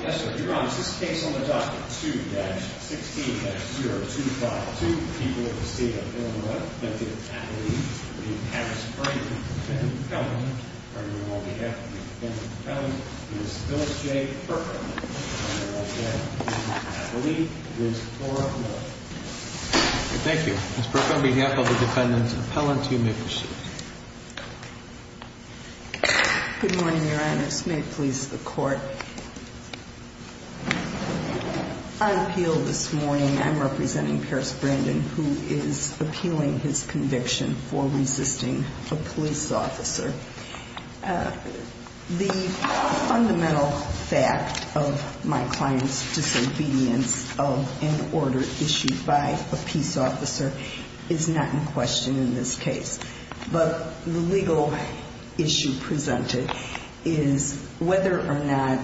Yes, sir. Your Honor, this case on the docket 2-16-0252, people of the state of Illinois, defendant's appellee, Ms. Harris-Franklin, defendant's appellant, on behalf of the defendant's appellant, Ms. Phyllis J. Perkin, on behalf of the defendant's appellee, Ms. Cora Miller. Thank you. Ms. Perkin, on behalf of the defendant's appellant, you may proceed. Good morning, Your Honors. May it please the Court. I appeal this morning, I'm representing Paris Brandon, who is appealing his conviction for resisting a police officer. The fundamental fact of my client's disobedience of an order issued by a peace officer is not in question in this case. But the legal issue presented is whether or not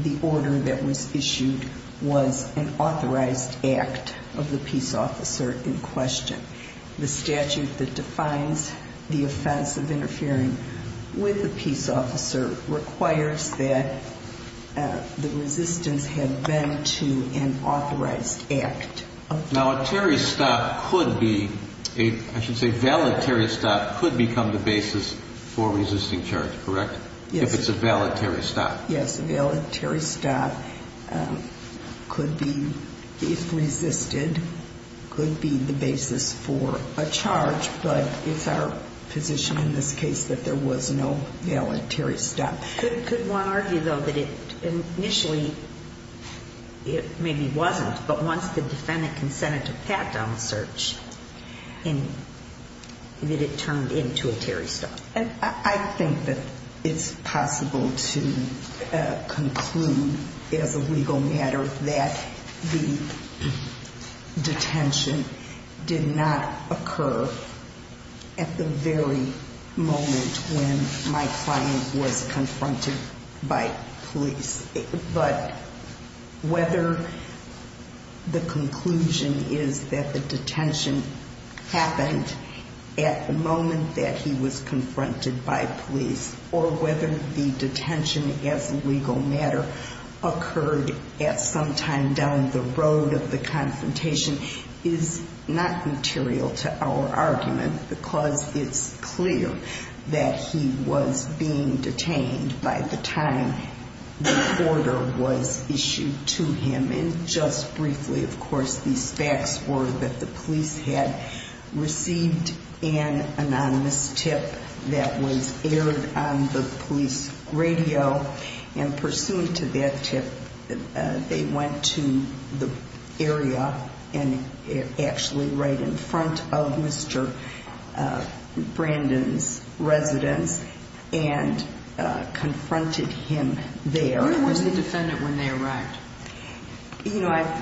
the order that was issued was an authorized act of the peace officer in question. The statute that defines the offense of interfering with a peace officer requires that the resistance have been to an authorized act. Now, a terri-stop could be, I should say, a valet-terri-stop could become the basis for resisting charge, correct? Yes. If it's a valet-terri-stop. Yes, a valet-terri-stop could be, if resisted, could be the basis for a charge, but it's our position in this case that there was no valet-terri-stop. Could one argue, though, that it initially, it maybe wasn't, but once the defendant consented to pat down the search, that it turned into a terri-stop? I think that it's possible to conclude, as a legal matter, that the detention did not occur at the very moment when my client was confronted by police. But whether the conclusion is that the detention happened at the moment that he was confronted by police, or whether the detention, as a legal matter, occurred at some time down the road of the confrontation, is not material to our argument because it's clear that he was being detained by the time the order was issued to him. And just briefly, of course, these facts were that the police had received an anonymous tip that was aired on the police radio, and pursuant to that tip, they went to the area, and actually right in front of Mr. Brandon's residence, and confronted him there. Where was the defendant when they arrived? You know, I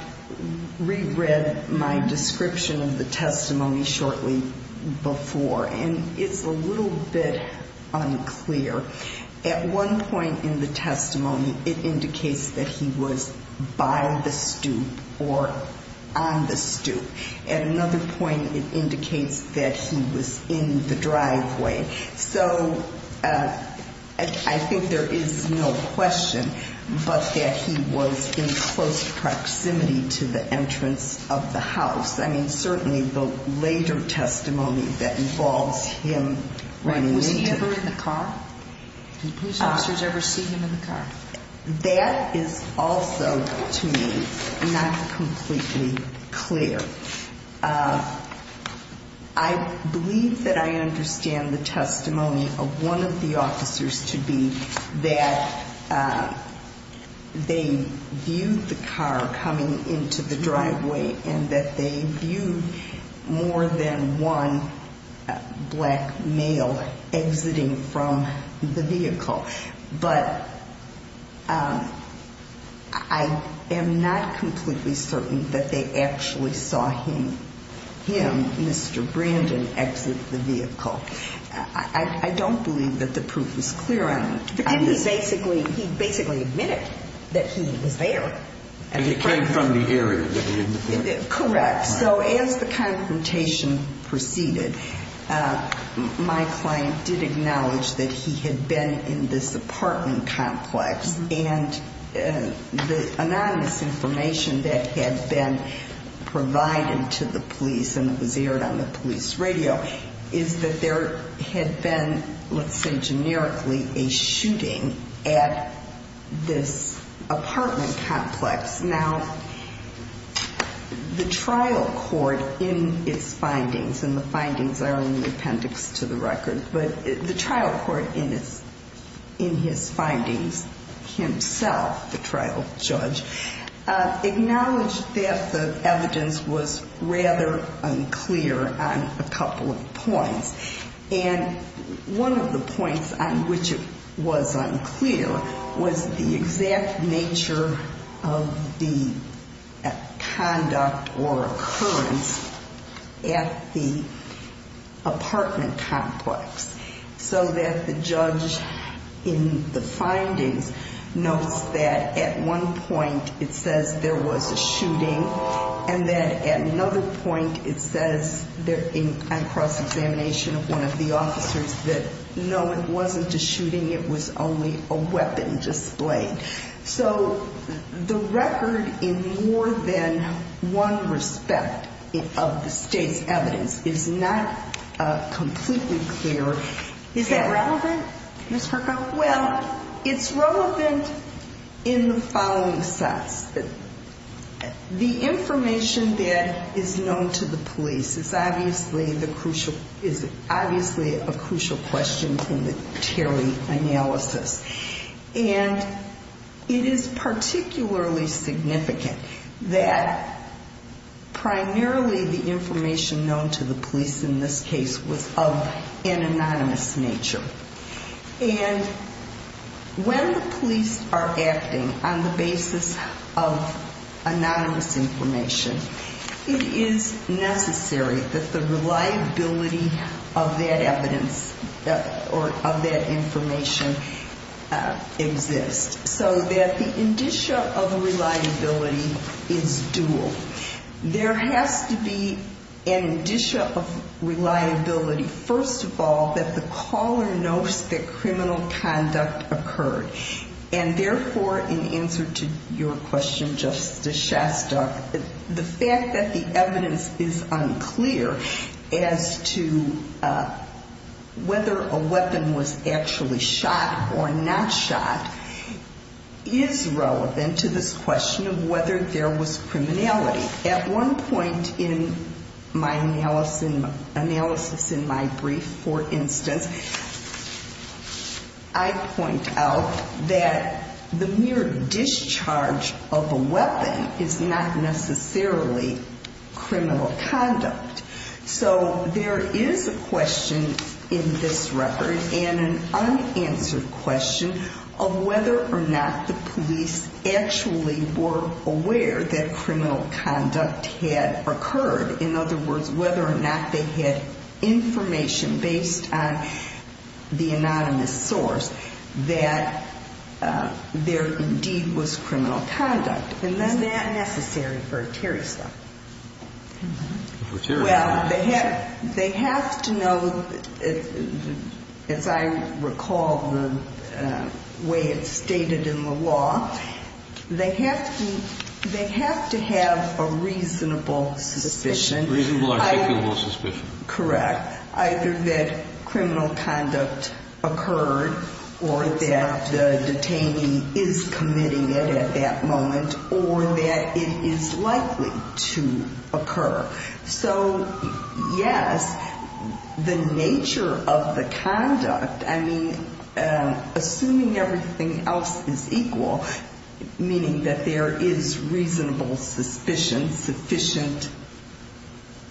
reread my description of the testimony shortly before, and it's a little bit unclear. At one point in the testimony, it indicates that he was by the stoop or on the stoop. At another point, it indicates that he was in the driveway. So I think there is no question but that he was in close proximity to the entrance of the house. I mean, certainly the later testimony that involves him running into it. Was he ever in the car? Did police officers ever see him in the car? That is also, to me, not completely clear. I believe that I understand the testimony of one of the officers to be that they viewed the car coming into the driveway, and that they viewed more than one black male exiting from the vehicle. But I am not completely certain that they actually saw him, Mr. Brandon, exit the vehicle. I don't believe that the proof is clear on it. Because he basically admitted that he was there. And he came from the area that he was in. Correct. So as the confrontation proceeded, my client did acknowledge that he had been in this apartment complex. And the anonymous information that had been provided to the police and was aired on the police radio, is that there had been, let's say generically, a shooting at this apartment complex. Now, the trial court in its findings, and the findings are in the appendix to the record, but the trial court in his findings himself, the trial judge, acknowledged that the evidence was rather unclear on a couple of points. And one of the points on which it was unclear was the exact nature of the conduct or occurrence at the apartment complex. So that the judge in the findings notes that at one point it says there was a shooting, and that at another point it says, on cross-examination of one of the officers, that no, it wasn't a shooting, it was only a weapon displayed. So the record in more than one respect of the state's evidence is not completely clear. Is that relevant, Ms. Perko? Well, it's relevant in the following sense. The information that is known to the police is obviously a crucial question in the Terry analysis. And it is particularly significant that primarily the information known to the police in this case was of an anonymous nature. And when the police are acting on the basis of anonymous information, it is necessary that the reliability of that evidence or of that information exists, so that the indicia of reliability is dual. There has to be an indicia of reliability, first of all, that the caller knows that criminal conduct occurred. And therefore, in answer to your question, Justice Shastok, the fact that the evidence is unclear as to whether a weapon was actually shot or not shot is relevant to this question of whether there was criminality. At one point in my analysis in my brief, for instance, I point out that the mere discharge of a weapon is not necessarily criminal conduct. So there is a question in this record and an unanswered question of whether or not the police actually were aware that criminal conduct had occurred. In other words, whether or not they had information based on the anonymous source that there indeed was criminal conduct. Is that necessary for Terry's law? Well, they have to know, as I recall the way it's stated in the law, they have to have a reasonable suspicion. A reasonable, articulable suspicion. Either that criminal conduct occurred or that the detainee is committing it at that moment or that it is likely to occur. So, yes, the nature of the conduct, I mean, assuming everything else is equal, meaning that there is reasonable suspicion, sufficient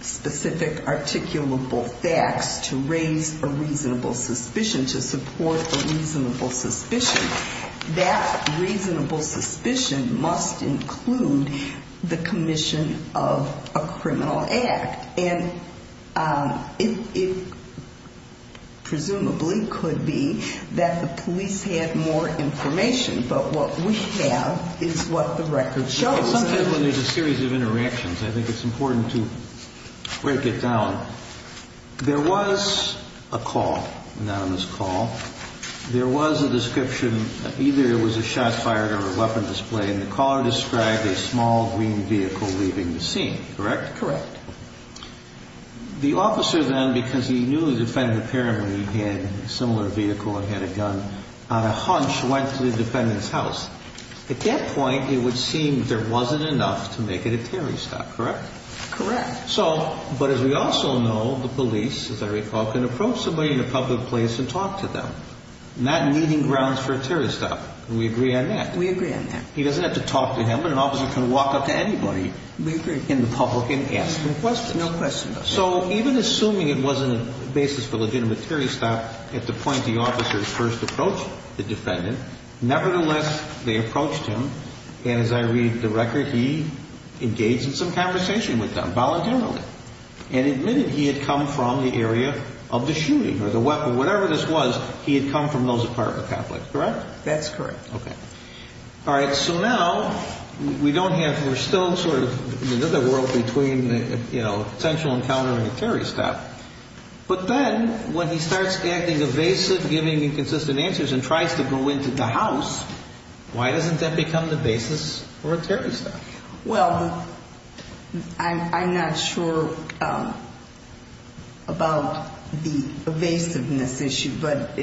specific articulable facts to raise a reasonable suspicion, to support a reasonable suspicion, that reasonable suspicion must include the commission of a criminal act. And it presumably could be that the police had more information. But what we have is what the record shows. Sometimes when there's a series of interactions, I think it's important to break it down. There was a call, anonymous call. There was a description, either it was a shot fired or a weapon display, and the caller described a small green vehicle leaving the scene, correct? Correct. The officer then, because he knew the defendant apparently had a similar vehicle and had a gun, on a hunch went to the defendant's house. At that point, it would seem there wasn't enough to make it a terrorist act, correct? Correct. So, but as we also know, the police, as I recall, can approach somebody in a public place and talk to them, not needing grounds for a terrorist act, and we agree on that. We agree on that. He doesn't have to talk to him, and an officer can walk up to anybody. We agree. And the public can ask them questions. No question about that. So even assuming it wasn't a basis for a legitimate terrorist act at the point the officers first approached the defendant, nevertheless, they approached him, and as I read the record, he engaged in some conversation with them voluntarily and admitted he had come from the area of the shooting or the weapon. Whatever this was, he had come from those part of the conflict, correct? That's correct. Okay. All right. So now we don't have, we're still sort of in another world between, you know, a potential encounter and a terrorist act, but then when he starts acting evasive, giving inconsistent answers, and tries to go into the house, why doesn't that become the basis for a terrorist act? Well, I'm not sure about the evasiveness issue, but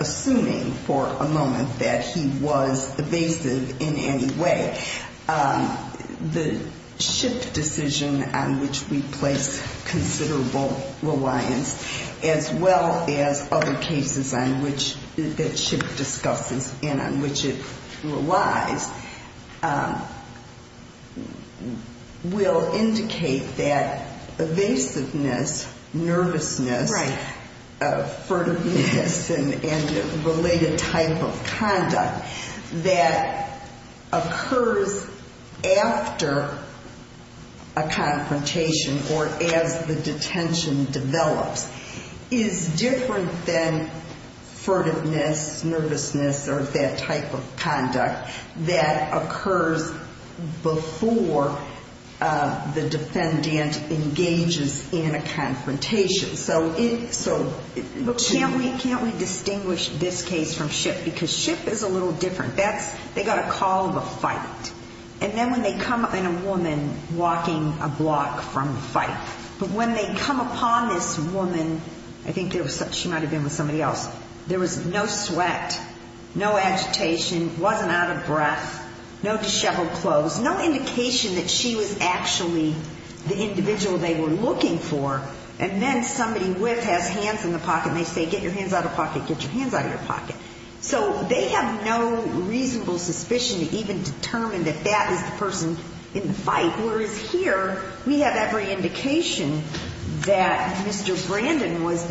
assuming for a moment that he was evasive in any way, the SHIP decision on which we place considerable reliance, as well as other cases on which, that SHIP discusses and on which it relies, will indicate that evasiveness, nervousness, furtiveness, and related type of conduct that occurs after a confrontation or as the detention develops is different than furtiveness, nervousness, or that type of conduct that occurs before the defendant engages in a confrontation. So can't we distinguish this case from SHIP? Because SHIP is a little different. They got a call of a fight, and then when they come up in a woman walking a block from the fight, but when they come upon this woman, I think she might have been with somebody else, there was no sweat, no agitation, wasn't out of breath, no disheveled clothes, no indication that she was actually the individual they were looking for, and then somebody whips, has hands in the pocket, and they say, get your hands out of your pocket, get your hands out of your pocket. So they have no reasonable suspicion to even determine that that is the person in the fight, whereas here we have every indication that Mr. Brandon was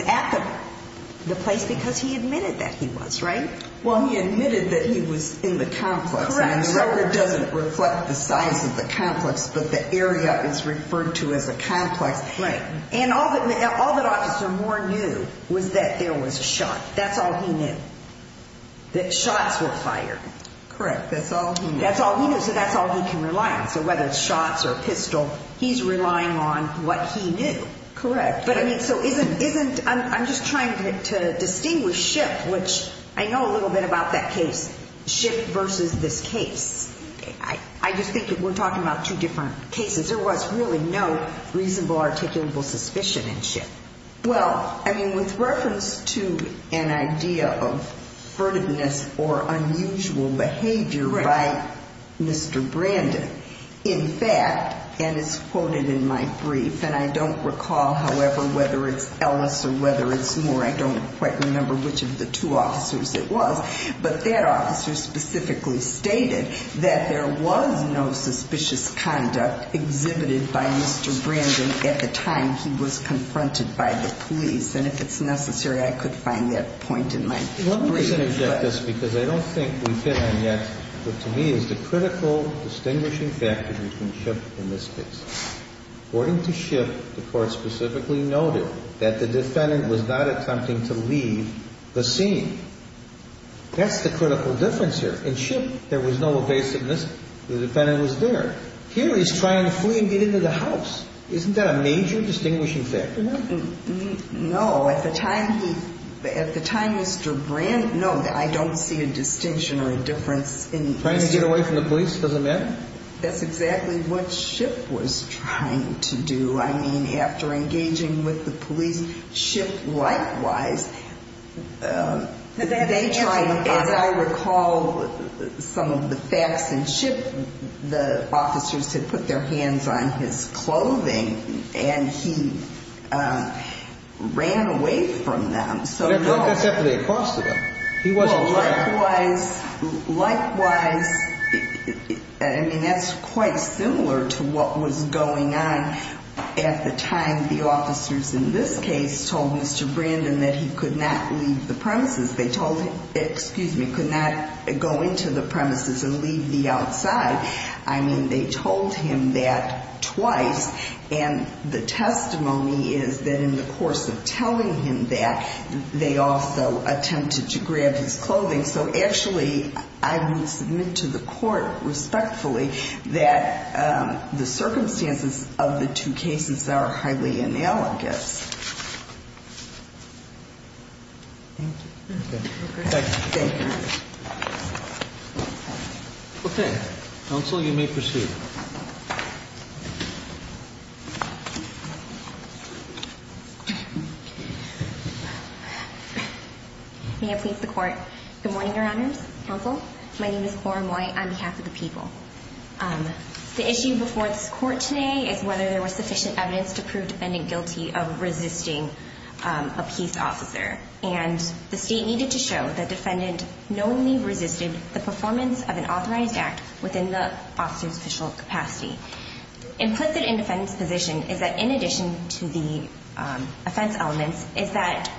at the place because he admitted that he was, right? Well, he admitted that he was in the complex. Correct. So it doesn't reflect the size of the complex, but the area is referred to as a complex. Right. And all that Officer Moore knew was that there was a shot. That's all he knew, that shots were fired. Correct. That's all he knew. That's all he knew, so that's all he can rely on. So whether it's shots or a pistol, he's relying on what he knew. Correct. But, I mean, so isn't, I'm just trying to distinguish Schiff, which I know a little bit about that case, Schiff versus this case. I just think we're talking about two different cases. Well, I mean, with reference to an idea of verdantness or unusual behavior by Mr. Brandon, in fact, and it's quoted in my brief, and I don't recall, however, whether it's Ellis or whether it's Moore, I don't quite remember which of the two officers it was, but that officer specifically stated that there was no suspicious conduct exhibited by Mr. Brandon at the time he was confronted by the police. And if it's necessary, I could find that point in my brief. Let me just interject this, because I don't think we've hit on yet what to me is the critical distinguishing factor between Schiff and this case. According to Schiff, the Court specifically noted that the defendant was not attempting to leave the scene. That's the critical difference here. In Schiff, there was no evasiveness. The defendant was there. Here he's trying to flee and get into the house. Isn't that a major distinguishing factor? No. At the time he, at the time Mr. Brandon, no, I don't see a distinction or a difference in Mr. Trying to get away from the police? Doesn't matter? That's exactly what Schiff was trying to do. I mean, after engaging with the police, Schiff likewise, they tried, as I recall, some of the facts in Schiff, the officers had put their hands on his clothing, and he ran away from them. Likewise, I mean, that's quite similar to what was going on at the time the officers in this case told Mr. Brandon that he could not leave the premises. They told him, excuse me, could not go into the premises and leave the outside. I mean, they told him that twice, and the testimony is that in the course of telling him that, they also attempted to grab his clothing. So actually, I would submit to the court respectfully that the circumstances of the two cases are highly analogous. Thank you. Okay. Thank you. Okay. Counsel, you may proceed. May I please the court? Good morning, Your Honors. Counsel, my name is Cora Moy on behalf of the people. The issue before this court today is whether there was sufficient evidence to prove defendant guilty of resisting a peace officer. And the state needed to show that defendant knowingly resisted the performance of an authorized act within the officer's official capacity. Implicit in defendant's position is that in addition to the offense elements is that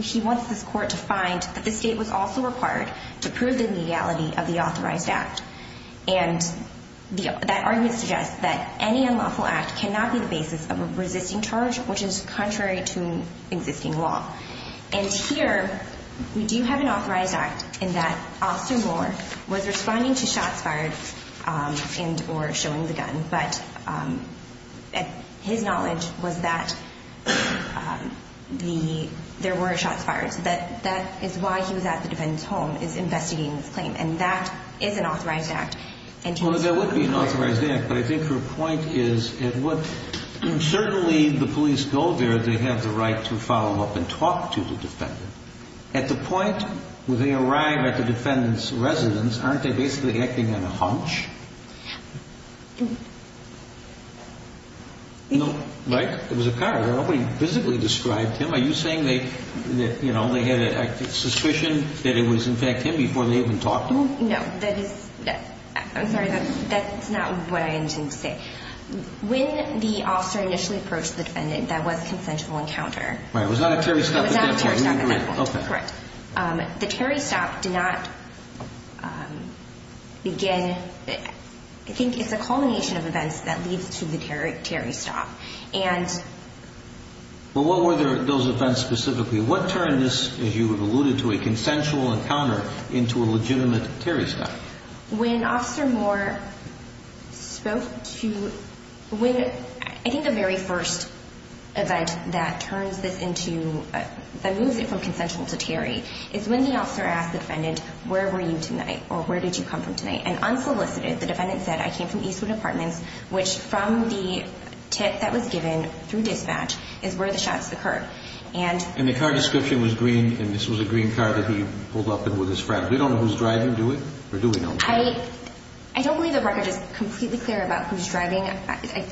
he wants this court to find that the state was also required to prove the legality of the authorized act. And that argument suggests that any unlawful act cannot be the basis of a resisting charge, which is contrary to existing law. And here, we do have an authorized act in that Austin Moore was responding to shots fired and or showing the gun, but his knowledge was that there were shots fired. So that is why he was at the defendant's home is investigating this claim. And that is an authorized act. Well, there would be an authorized act. But I think your point is, certainly the police go there. They have the right to follow up and talk to the defendant. At the point where they arrive at the defendant's residence, aren't they basically acting on a hunch? No. Right? It was a card. Nobody physically described him. Are you saying they had a suspicion that it was, in fact, him before they even talked? No. I'm sorry. That's not what I intended to say. When the officer initially approached the defendant, that was a consensual encounter. Right. It was not a Terry stop. It was not a Terry stop at that point. Correct. The Terry stop did not begin. I think it's a culmination of events that leads to the Terry stop. Well, what were those events specifically? What turned this, as you have alluded to, a consensual encounter into a legitimate Terry stop? I think the very first event that moves it from consensual to Terry is when the officer asked the defendant, where were you tonight or where did you come from tonight? And unsolicited, the defendant said, I came from Eastwood Apartments, which from the tip that was given through dispatch is where the shots occurred. And the car description was green, and this was a green car that he pulled up in with his friend. We don't know who's driving, do we? Or do we know? I don't believe the record is completely clear about who's driving. I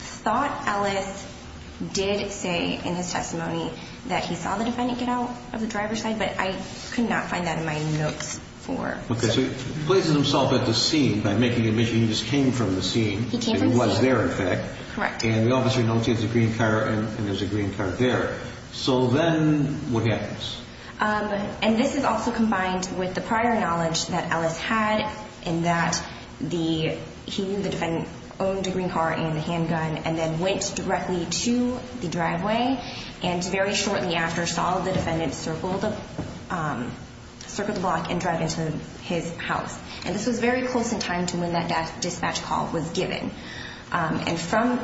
thought Ellis did say in his testimony that he saw the defendant get out of the driver's side, but I could not find that in my notes. So he places himself at the scene by making the admission he just came from the scene. He came from the scene. It was there, in fact. Correct. And the officer notes he has a green car and there's a green car there. So then what happens? And this is also combined with the prior knowledge that Ellis had in that he knew the defendant owned a green car and the handgun and then went directly to the driveway and very shortly after saw the defendant circle the block and drive into his house. And this was very close in time to when that dispatch call was given. And from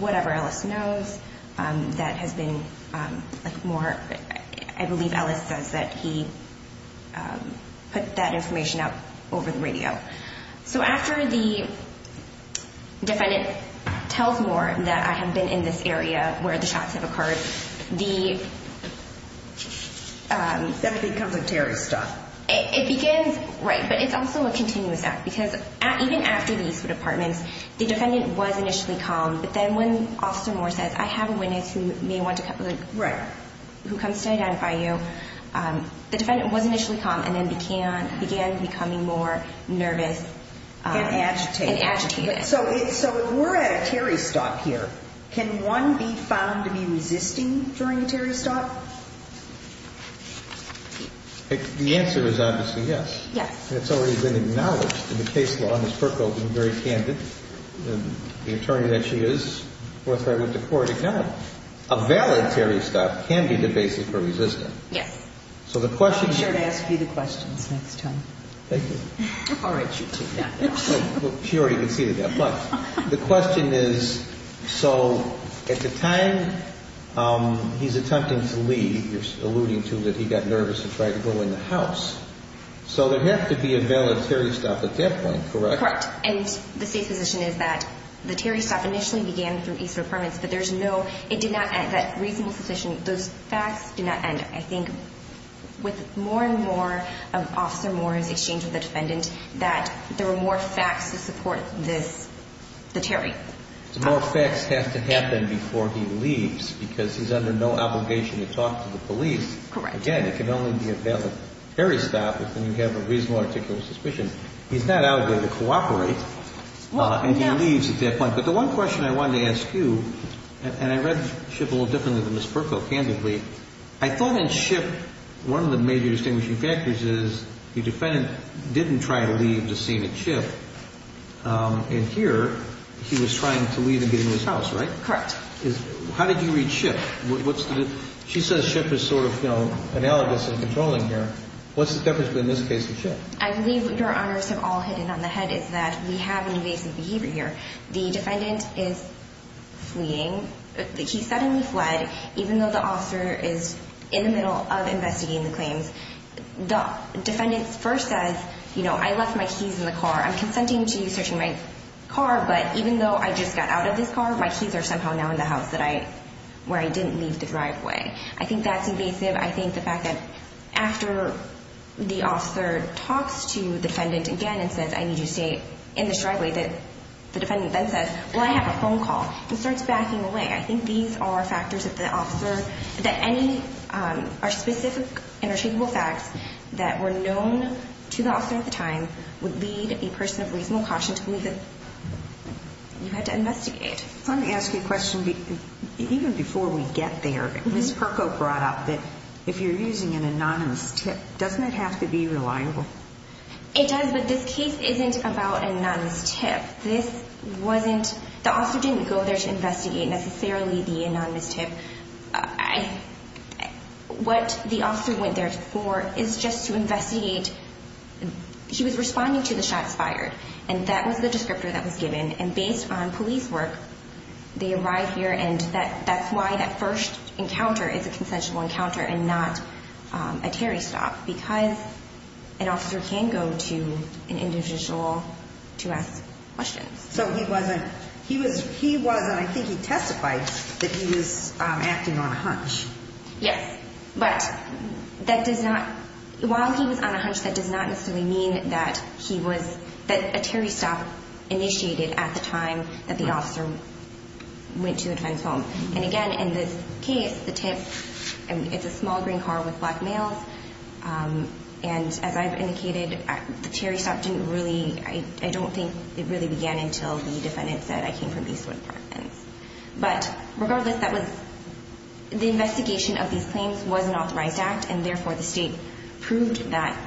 whatever Ellis knows, that has been like more, I believe Ellis says that he put that information out over the radio. So after the defendant tells Moore that I have been in this area where the shots have occurred, the… That becomes a terrorist stop. It begins, right, but it's also a continuous act because even after these two departments, the defendant was initially calm, but then when Officer Moore says, I have a witness who may want to… Right. …who comes to identify you, the defendant was initially calm and then began becoming more nervous. And agitated. And agitated. So if we're at a terrorist stop here, can one be found to be resisting during a terrorist stop? The answer is obviously yes. Yes. And it's already been acknowledged in the case law. Ms. Perko has been very candid. The attorney that she is with the court acknowledged. A voluntary stop can be the basis for resistance. Yes. So the question is… I'll be sure to ask you the questions next time. Thank you. All right, you two. Yeah. She already conceded that. The question is, so at the time he's attempting to leave, you're alluding to that he got nervous and tried to go in the house. So there had to be a voluntary stop at that point, correct? Correct. And the safe position is that the terrorist stop initially began through each of the departments, but there's no… It did not end. That reasonable position, those facts did not end. And I think with more and more of Officer Moore's exchange with the defendant, that there were more facts to support this, the Terry. So more facts have to happen before he leaves because he's under no obligation to talk to the police. Correct. Again, it can only be a valid terrorist stop if you have a reasonable, articulate suspicion. He's not out there to cooperate and he leaves at that point. But the one question I wanted to ask you, and I read Schiff a little differently than Ms. Perko candidly, I thought in Schiff one of the major distinguishing factors is the defendant didn't try to leave the scene at Schiff. And here he was trying to leave and get into his house, right? Correct. How did you read Schiff? She says Schiff is sort of analogous in controlling here. What's the difference between this case and Schiff? I believe what your honors have all hidden on the head is that we have an invasive behavior here. The defendant is fleeing. He suddenly fled, even though the officer is in the middle of investigating the claims. The defendant first says, you know, I left my keys in the car. I'm consenting to you searching my car, but even though I just got out of this car, my keys are somehow now in the house where I didn't leave the driveway. I think that's invasive. I think the fact that after the officer talks to the defendant again and says, I need you to stay in the driveway, that the defendant then says, well, I have a phone call. He starts backing away. I think these are factors that the officer, that any specific and attributable facts that were known to the officer at the time would lead a person of reasonable caution to believe that you had to investigate. Let me ask you a question. Even before we get there, Ms. Perko brought up that if you're using an anonymous tip, doesn't it have to be reliable? It does, but this case isn't about an anonymous tip. This wasn't, the officer didn't go there to investigate necessarily the anonymous tip. What the officer went there for is just to investigate. He was responding to the shots fired, and that was the descriptor that was given. And based on police work, they arrived here, and that's why that first encounter is a consensual encounter and not a Terry stop, because an officer can go to an individual to ask questions. So he wasn't, he was, and I think he testified that he was acting on a hunch. Yes, but that does not, while he was on a hunch, that does not necessarily mean that he was, that a Terry stop initiated at the time that the officer went to a defense home. And again, in this case, the tip, it's a small green car with black males, and as I've indicated, the Terry stop didn't really, I don't think it really began until the defendant said, But regardless, that was, the investigation of these claims was an authorized act, and therefore the state proved that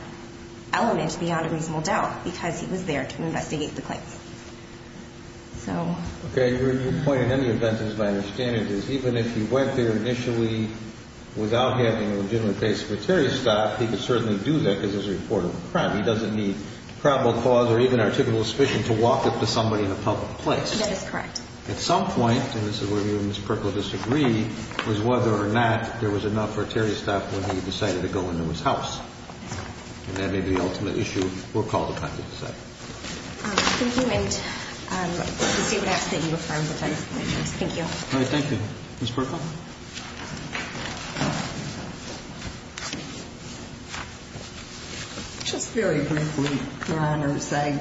element beyond a reasonable doubt, because he was there to investigate the claims. Okay, your point in any event, as my understanding is, even if he went there initially without having a legitimate case for a Terry stop, he could certainly do that because it was a report of a crime. He doesn't need probable cause or even articulable suspicion to walk up to somebody in a public place. That is correct. At some point, and this is where you and Ms. Purkle disagree, was whether or not there was enough for a Terry stop when he decided to go into his house. And that may be the ultimate issue. We'll call the time to decide. Thank you, and the state would ask that you reaffirm the claims. Thank you. Thank you. Ms. Purkle. Just very briefly, Your Honors, I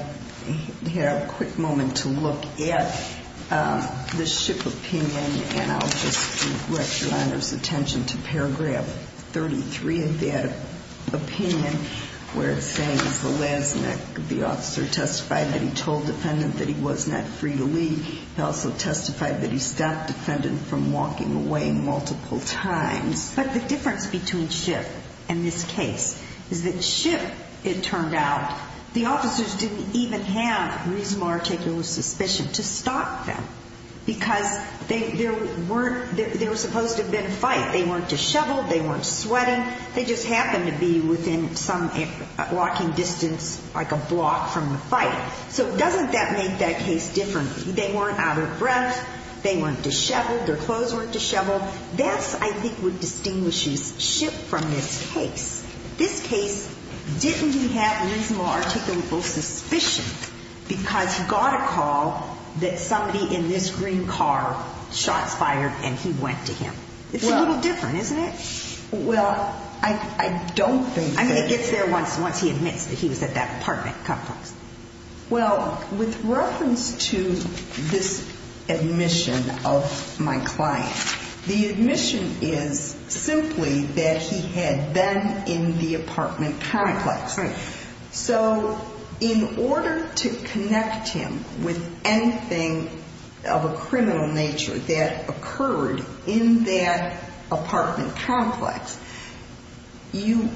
have a quick moment to look at the SHIP opinion, and I'll just direct Your Honors' attention to paragraph 33 of that opinion, where it says, The last night the officer testified that he told the defendant that he was not free to leave. He also testified that he stopped the defendant from walking away. But the difference between SHIP and this case is that SHIP, it turned out, the officers didn't even have reasonable articulable suspicion to stop them because there were supposed to have been a fight. They weren't disheveled. They weren't sweating. They just happened to be within some walking distance, like a block from the fight. So doesn't that make that case different? They weren't out of breath. They weren't disheveled. Their clothes weren't disheveled. That's, I think, what distinguishes SHIP from this case. This case didn't even have reasonable articulable suspicion because he got a call that somebody in this green car shots fired, and he went to him. It's a little different, isn't it? Well, I don't think that it is. I mean, it gets there once he admits that he was at that apartment complex. Well, with reference to this admission of my client, the admission is simply that he had been in the apartment complex. So in order to connect him with anything of a criminal nature that occurred in that apartment complex, you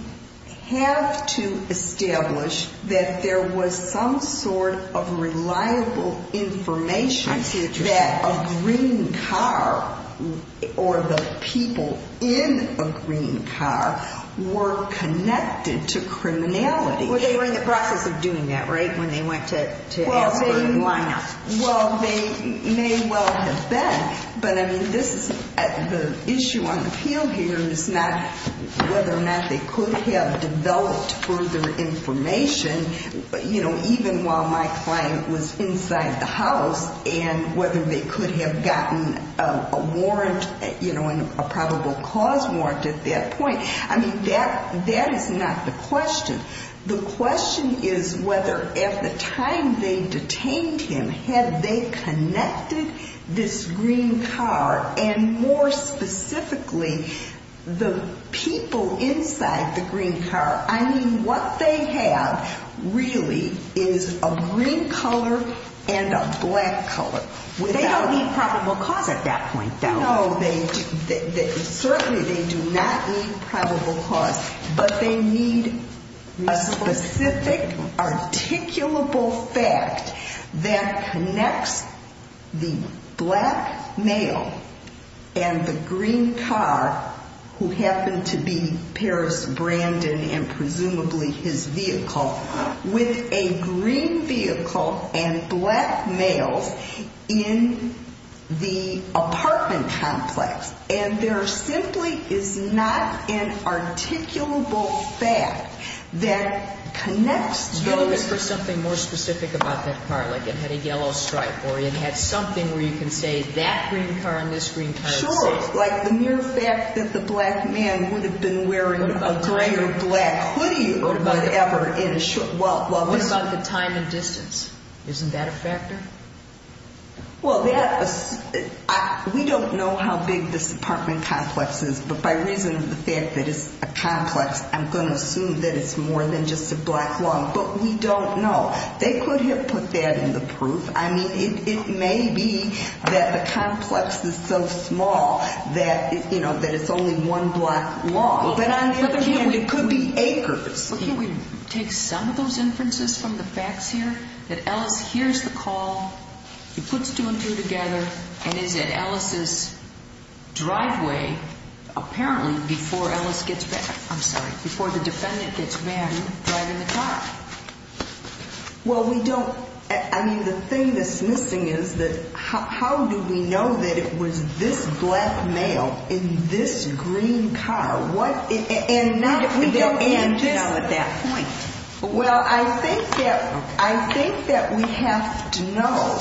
have to establish that there was some sort of reliable information that a green car or the people in a green car were connected to criminality. Well, they were in the process of doing that, right, when they went to ask for a lineup? Well, they may well have been, but the issue on the field here is not whether or not they could have developed further information, even while my client was inside the house, and whether they could have gotten a probable cause warrant at that point. I mean, that is not the question. The question is whether at the time they detained him, had they connected this green car, and more specifically, the people inside the green car. I mean, what they have really is a green color and a black color. They don't need probable cause at that point, though. No, certainly they do not need probable cause, but they need a specific articulable fact that connects the black male and the green car, who happened to be Paris Brandon and presumably his vehicle, with a green vehicle and black males in the apartment complex. And there simply is not an articulable fact that connects those. You look for something more specific about that car, like it had a yellow stripe, or it had something where you can say that green car and this green car are the same. Sure, like the mere fact that the black man would have been wearing a gray or black hoodie or whatever. What about the time and distance? Isn't that a factor? Well, we don't know how big this apartment complex is, but by reason of the fact that it's a complex, I'm going to assume that it's more than just a block long. But we don't know. They could have put that in the proof. I mean, it may be that the complex is so small that it's only one block long. But on the other hand, it could be acres. Well, can't we take some of those inferences from the facts here? That Ellis hears the call, he puts two and two together, and is at Ellis' driveway apparently before Ellis gets back. I'm sorry, before the defendant gets back driving the car. Well, we don't. I mean, the thing that's missing is that how do we know that it was this black male in this green car? We don't know at that point. Well, I think that we have to know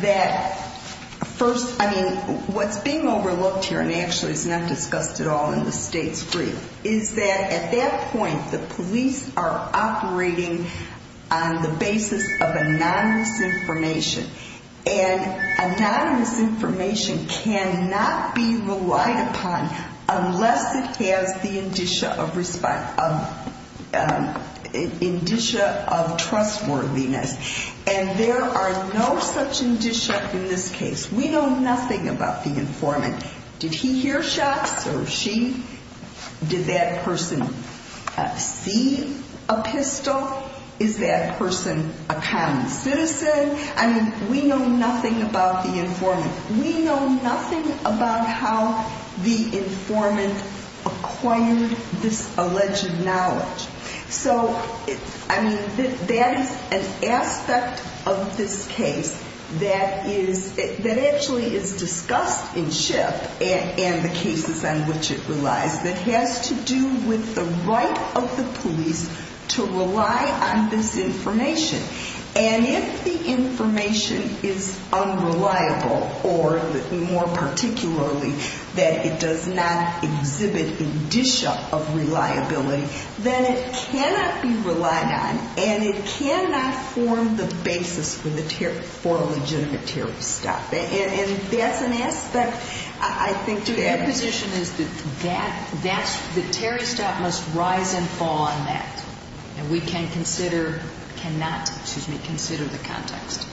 that first, I mean, what's being overlooked here, and actually it's not discussed at all in the state's brief, is that at that point the police are operating on the basis of anonymous information. And anonymous information cannot be relied upon unless it has the indicia of trustworthiness. And there are no such indicia in this case. We know nothing about the informant. Did he hear shots or she? Did that person see a pistol? Is that person a common citizen? I mean, we know nothing about the informant. We know nothing about how the informant acquired this alleged knowledge. So, I mean, that is an aspect of this case that actually is discussed in SHIP and the cases on which it relies that has to do with the right of the police to rely on this information. And if the information is unreliable or, more particularly, that it does not exhibit indicia of reliability, then it cannot be relied on and it cannot form the basis for a legitimate Terry stop. And that's an aspect, I think, to that. Your position is that the Terry stop must rise and fall on that. And we can consider, cannot, excuse me, consider the context.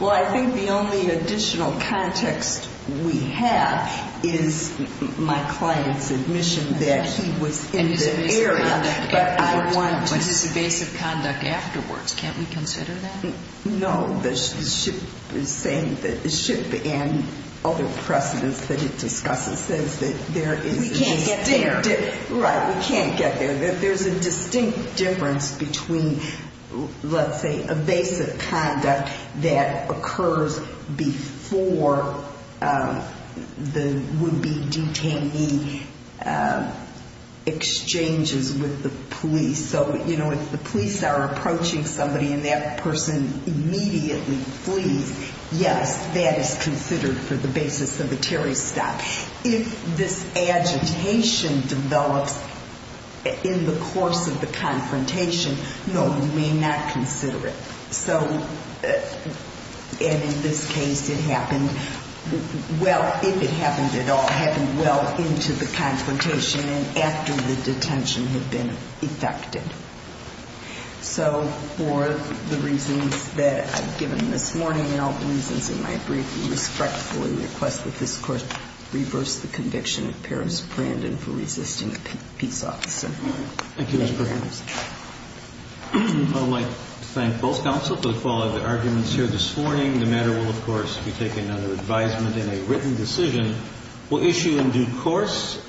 Well, I think the only additional context we have is my client's admission that he was in the area. But his evasive conduct afterwards, can't we consider that? No. The SHIP is saying that the SHIP and other precedents that it discusses says that there is a distinct. We can't get there. Right. We can't get there. There's a distinct difference between, let's say, evasive conduct that occurs before the would-be detainee exchanges with the police. So, you know, if the police are approaching somebody and that person immediately flees, yes, that is considered for the basis of a Terry stop. If this agitation develops in the course of the confrontation, no, you may not consider it. So, and in this case, it happened well, if it happened at all, it happened well into the confrontation and after the detention had been effected. So for the reasons that I've given this morning and all the reasons in my brief, we respectfully request that this Court reverse the conviction of Paris Brandon for resisting a peace officer. Thank you, Ms. Brandon. I would like to thank both counsel for the follow-up arguments here this morning. The matter will, of course, be taken under advisement in a written decision. We'll issue in due course.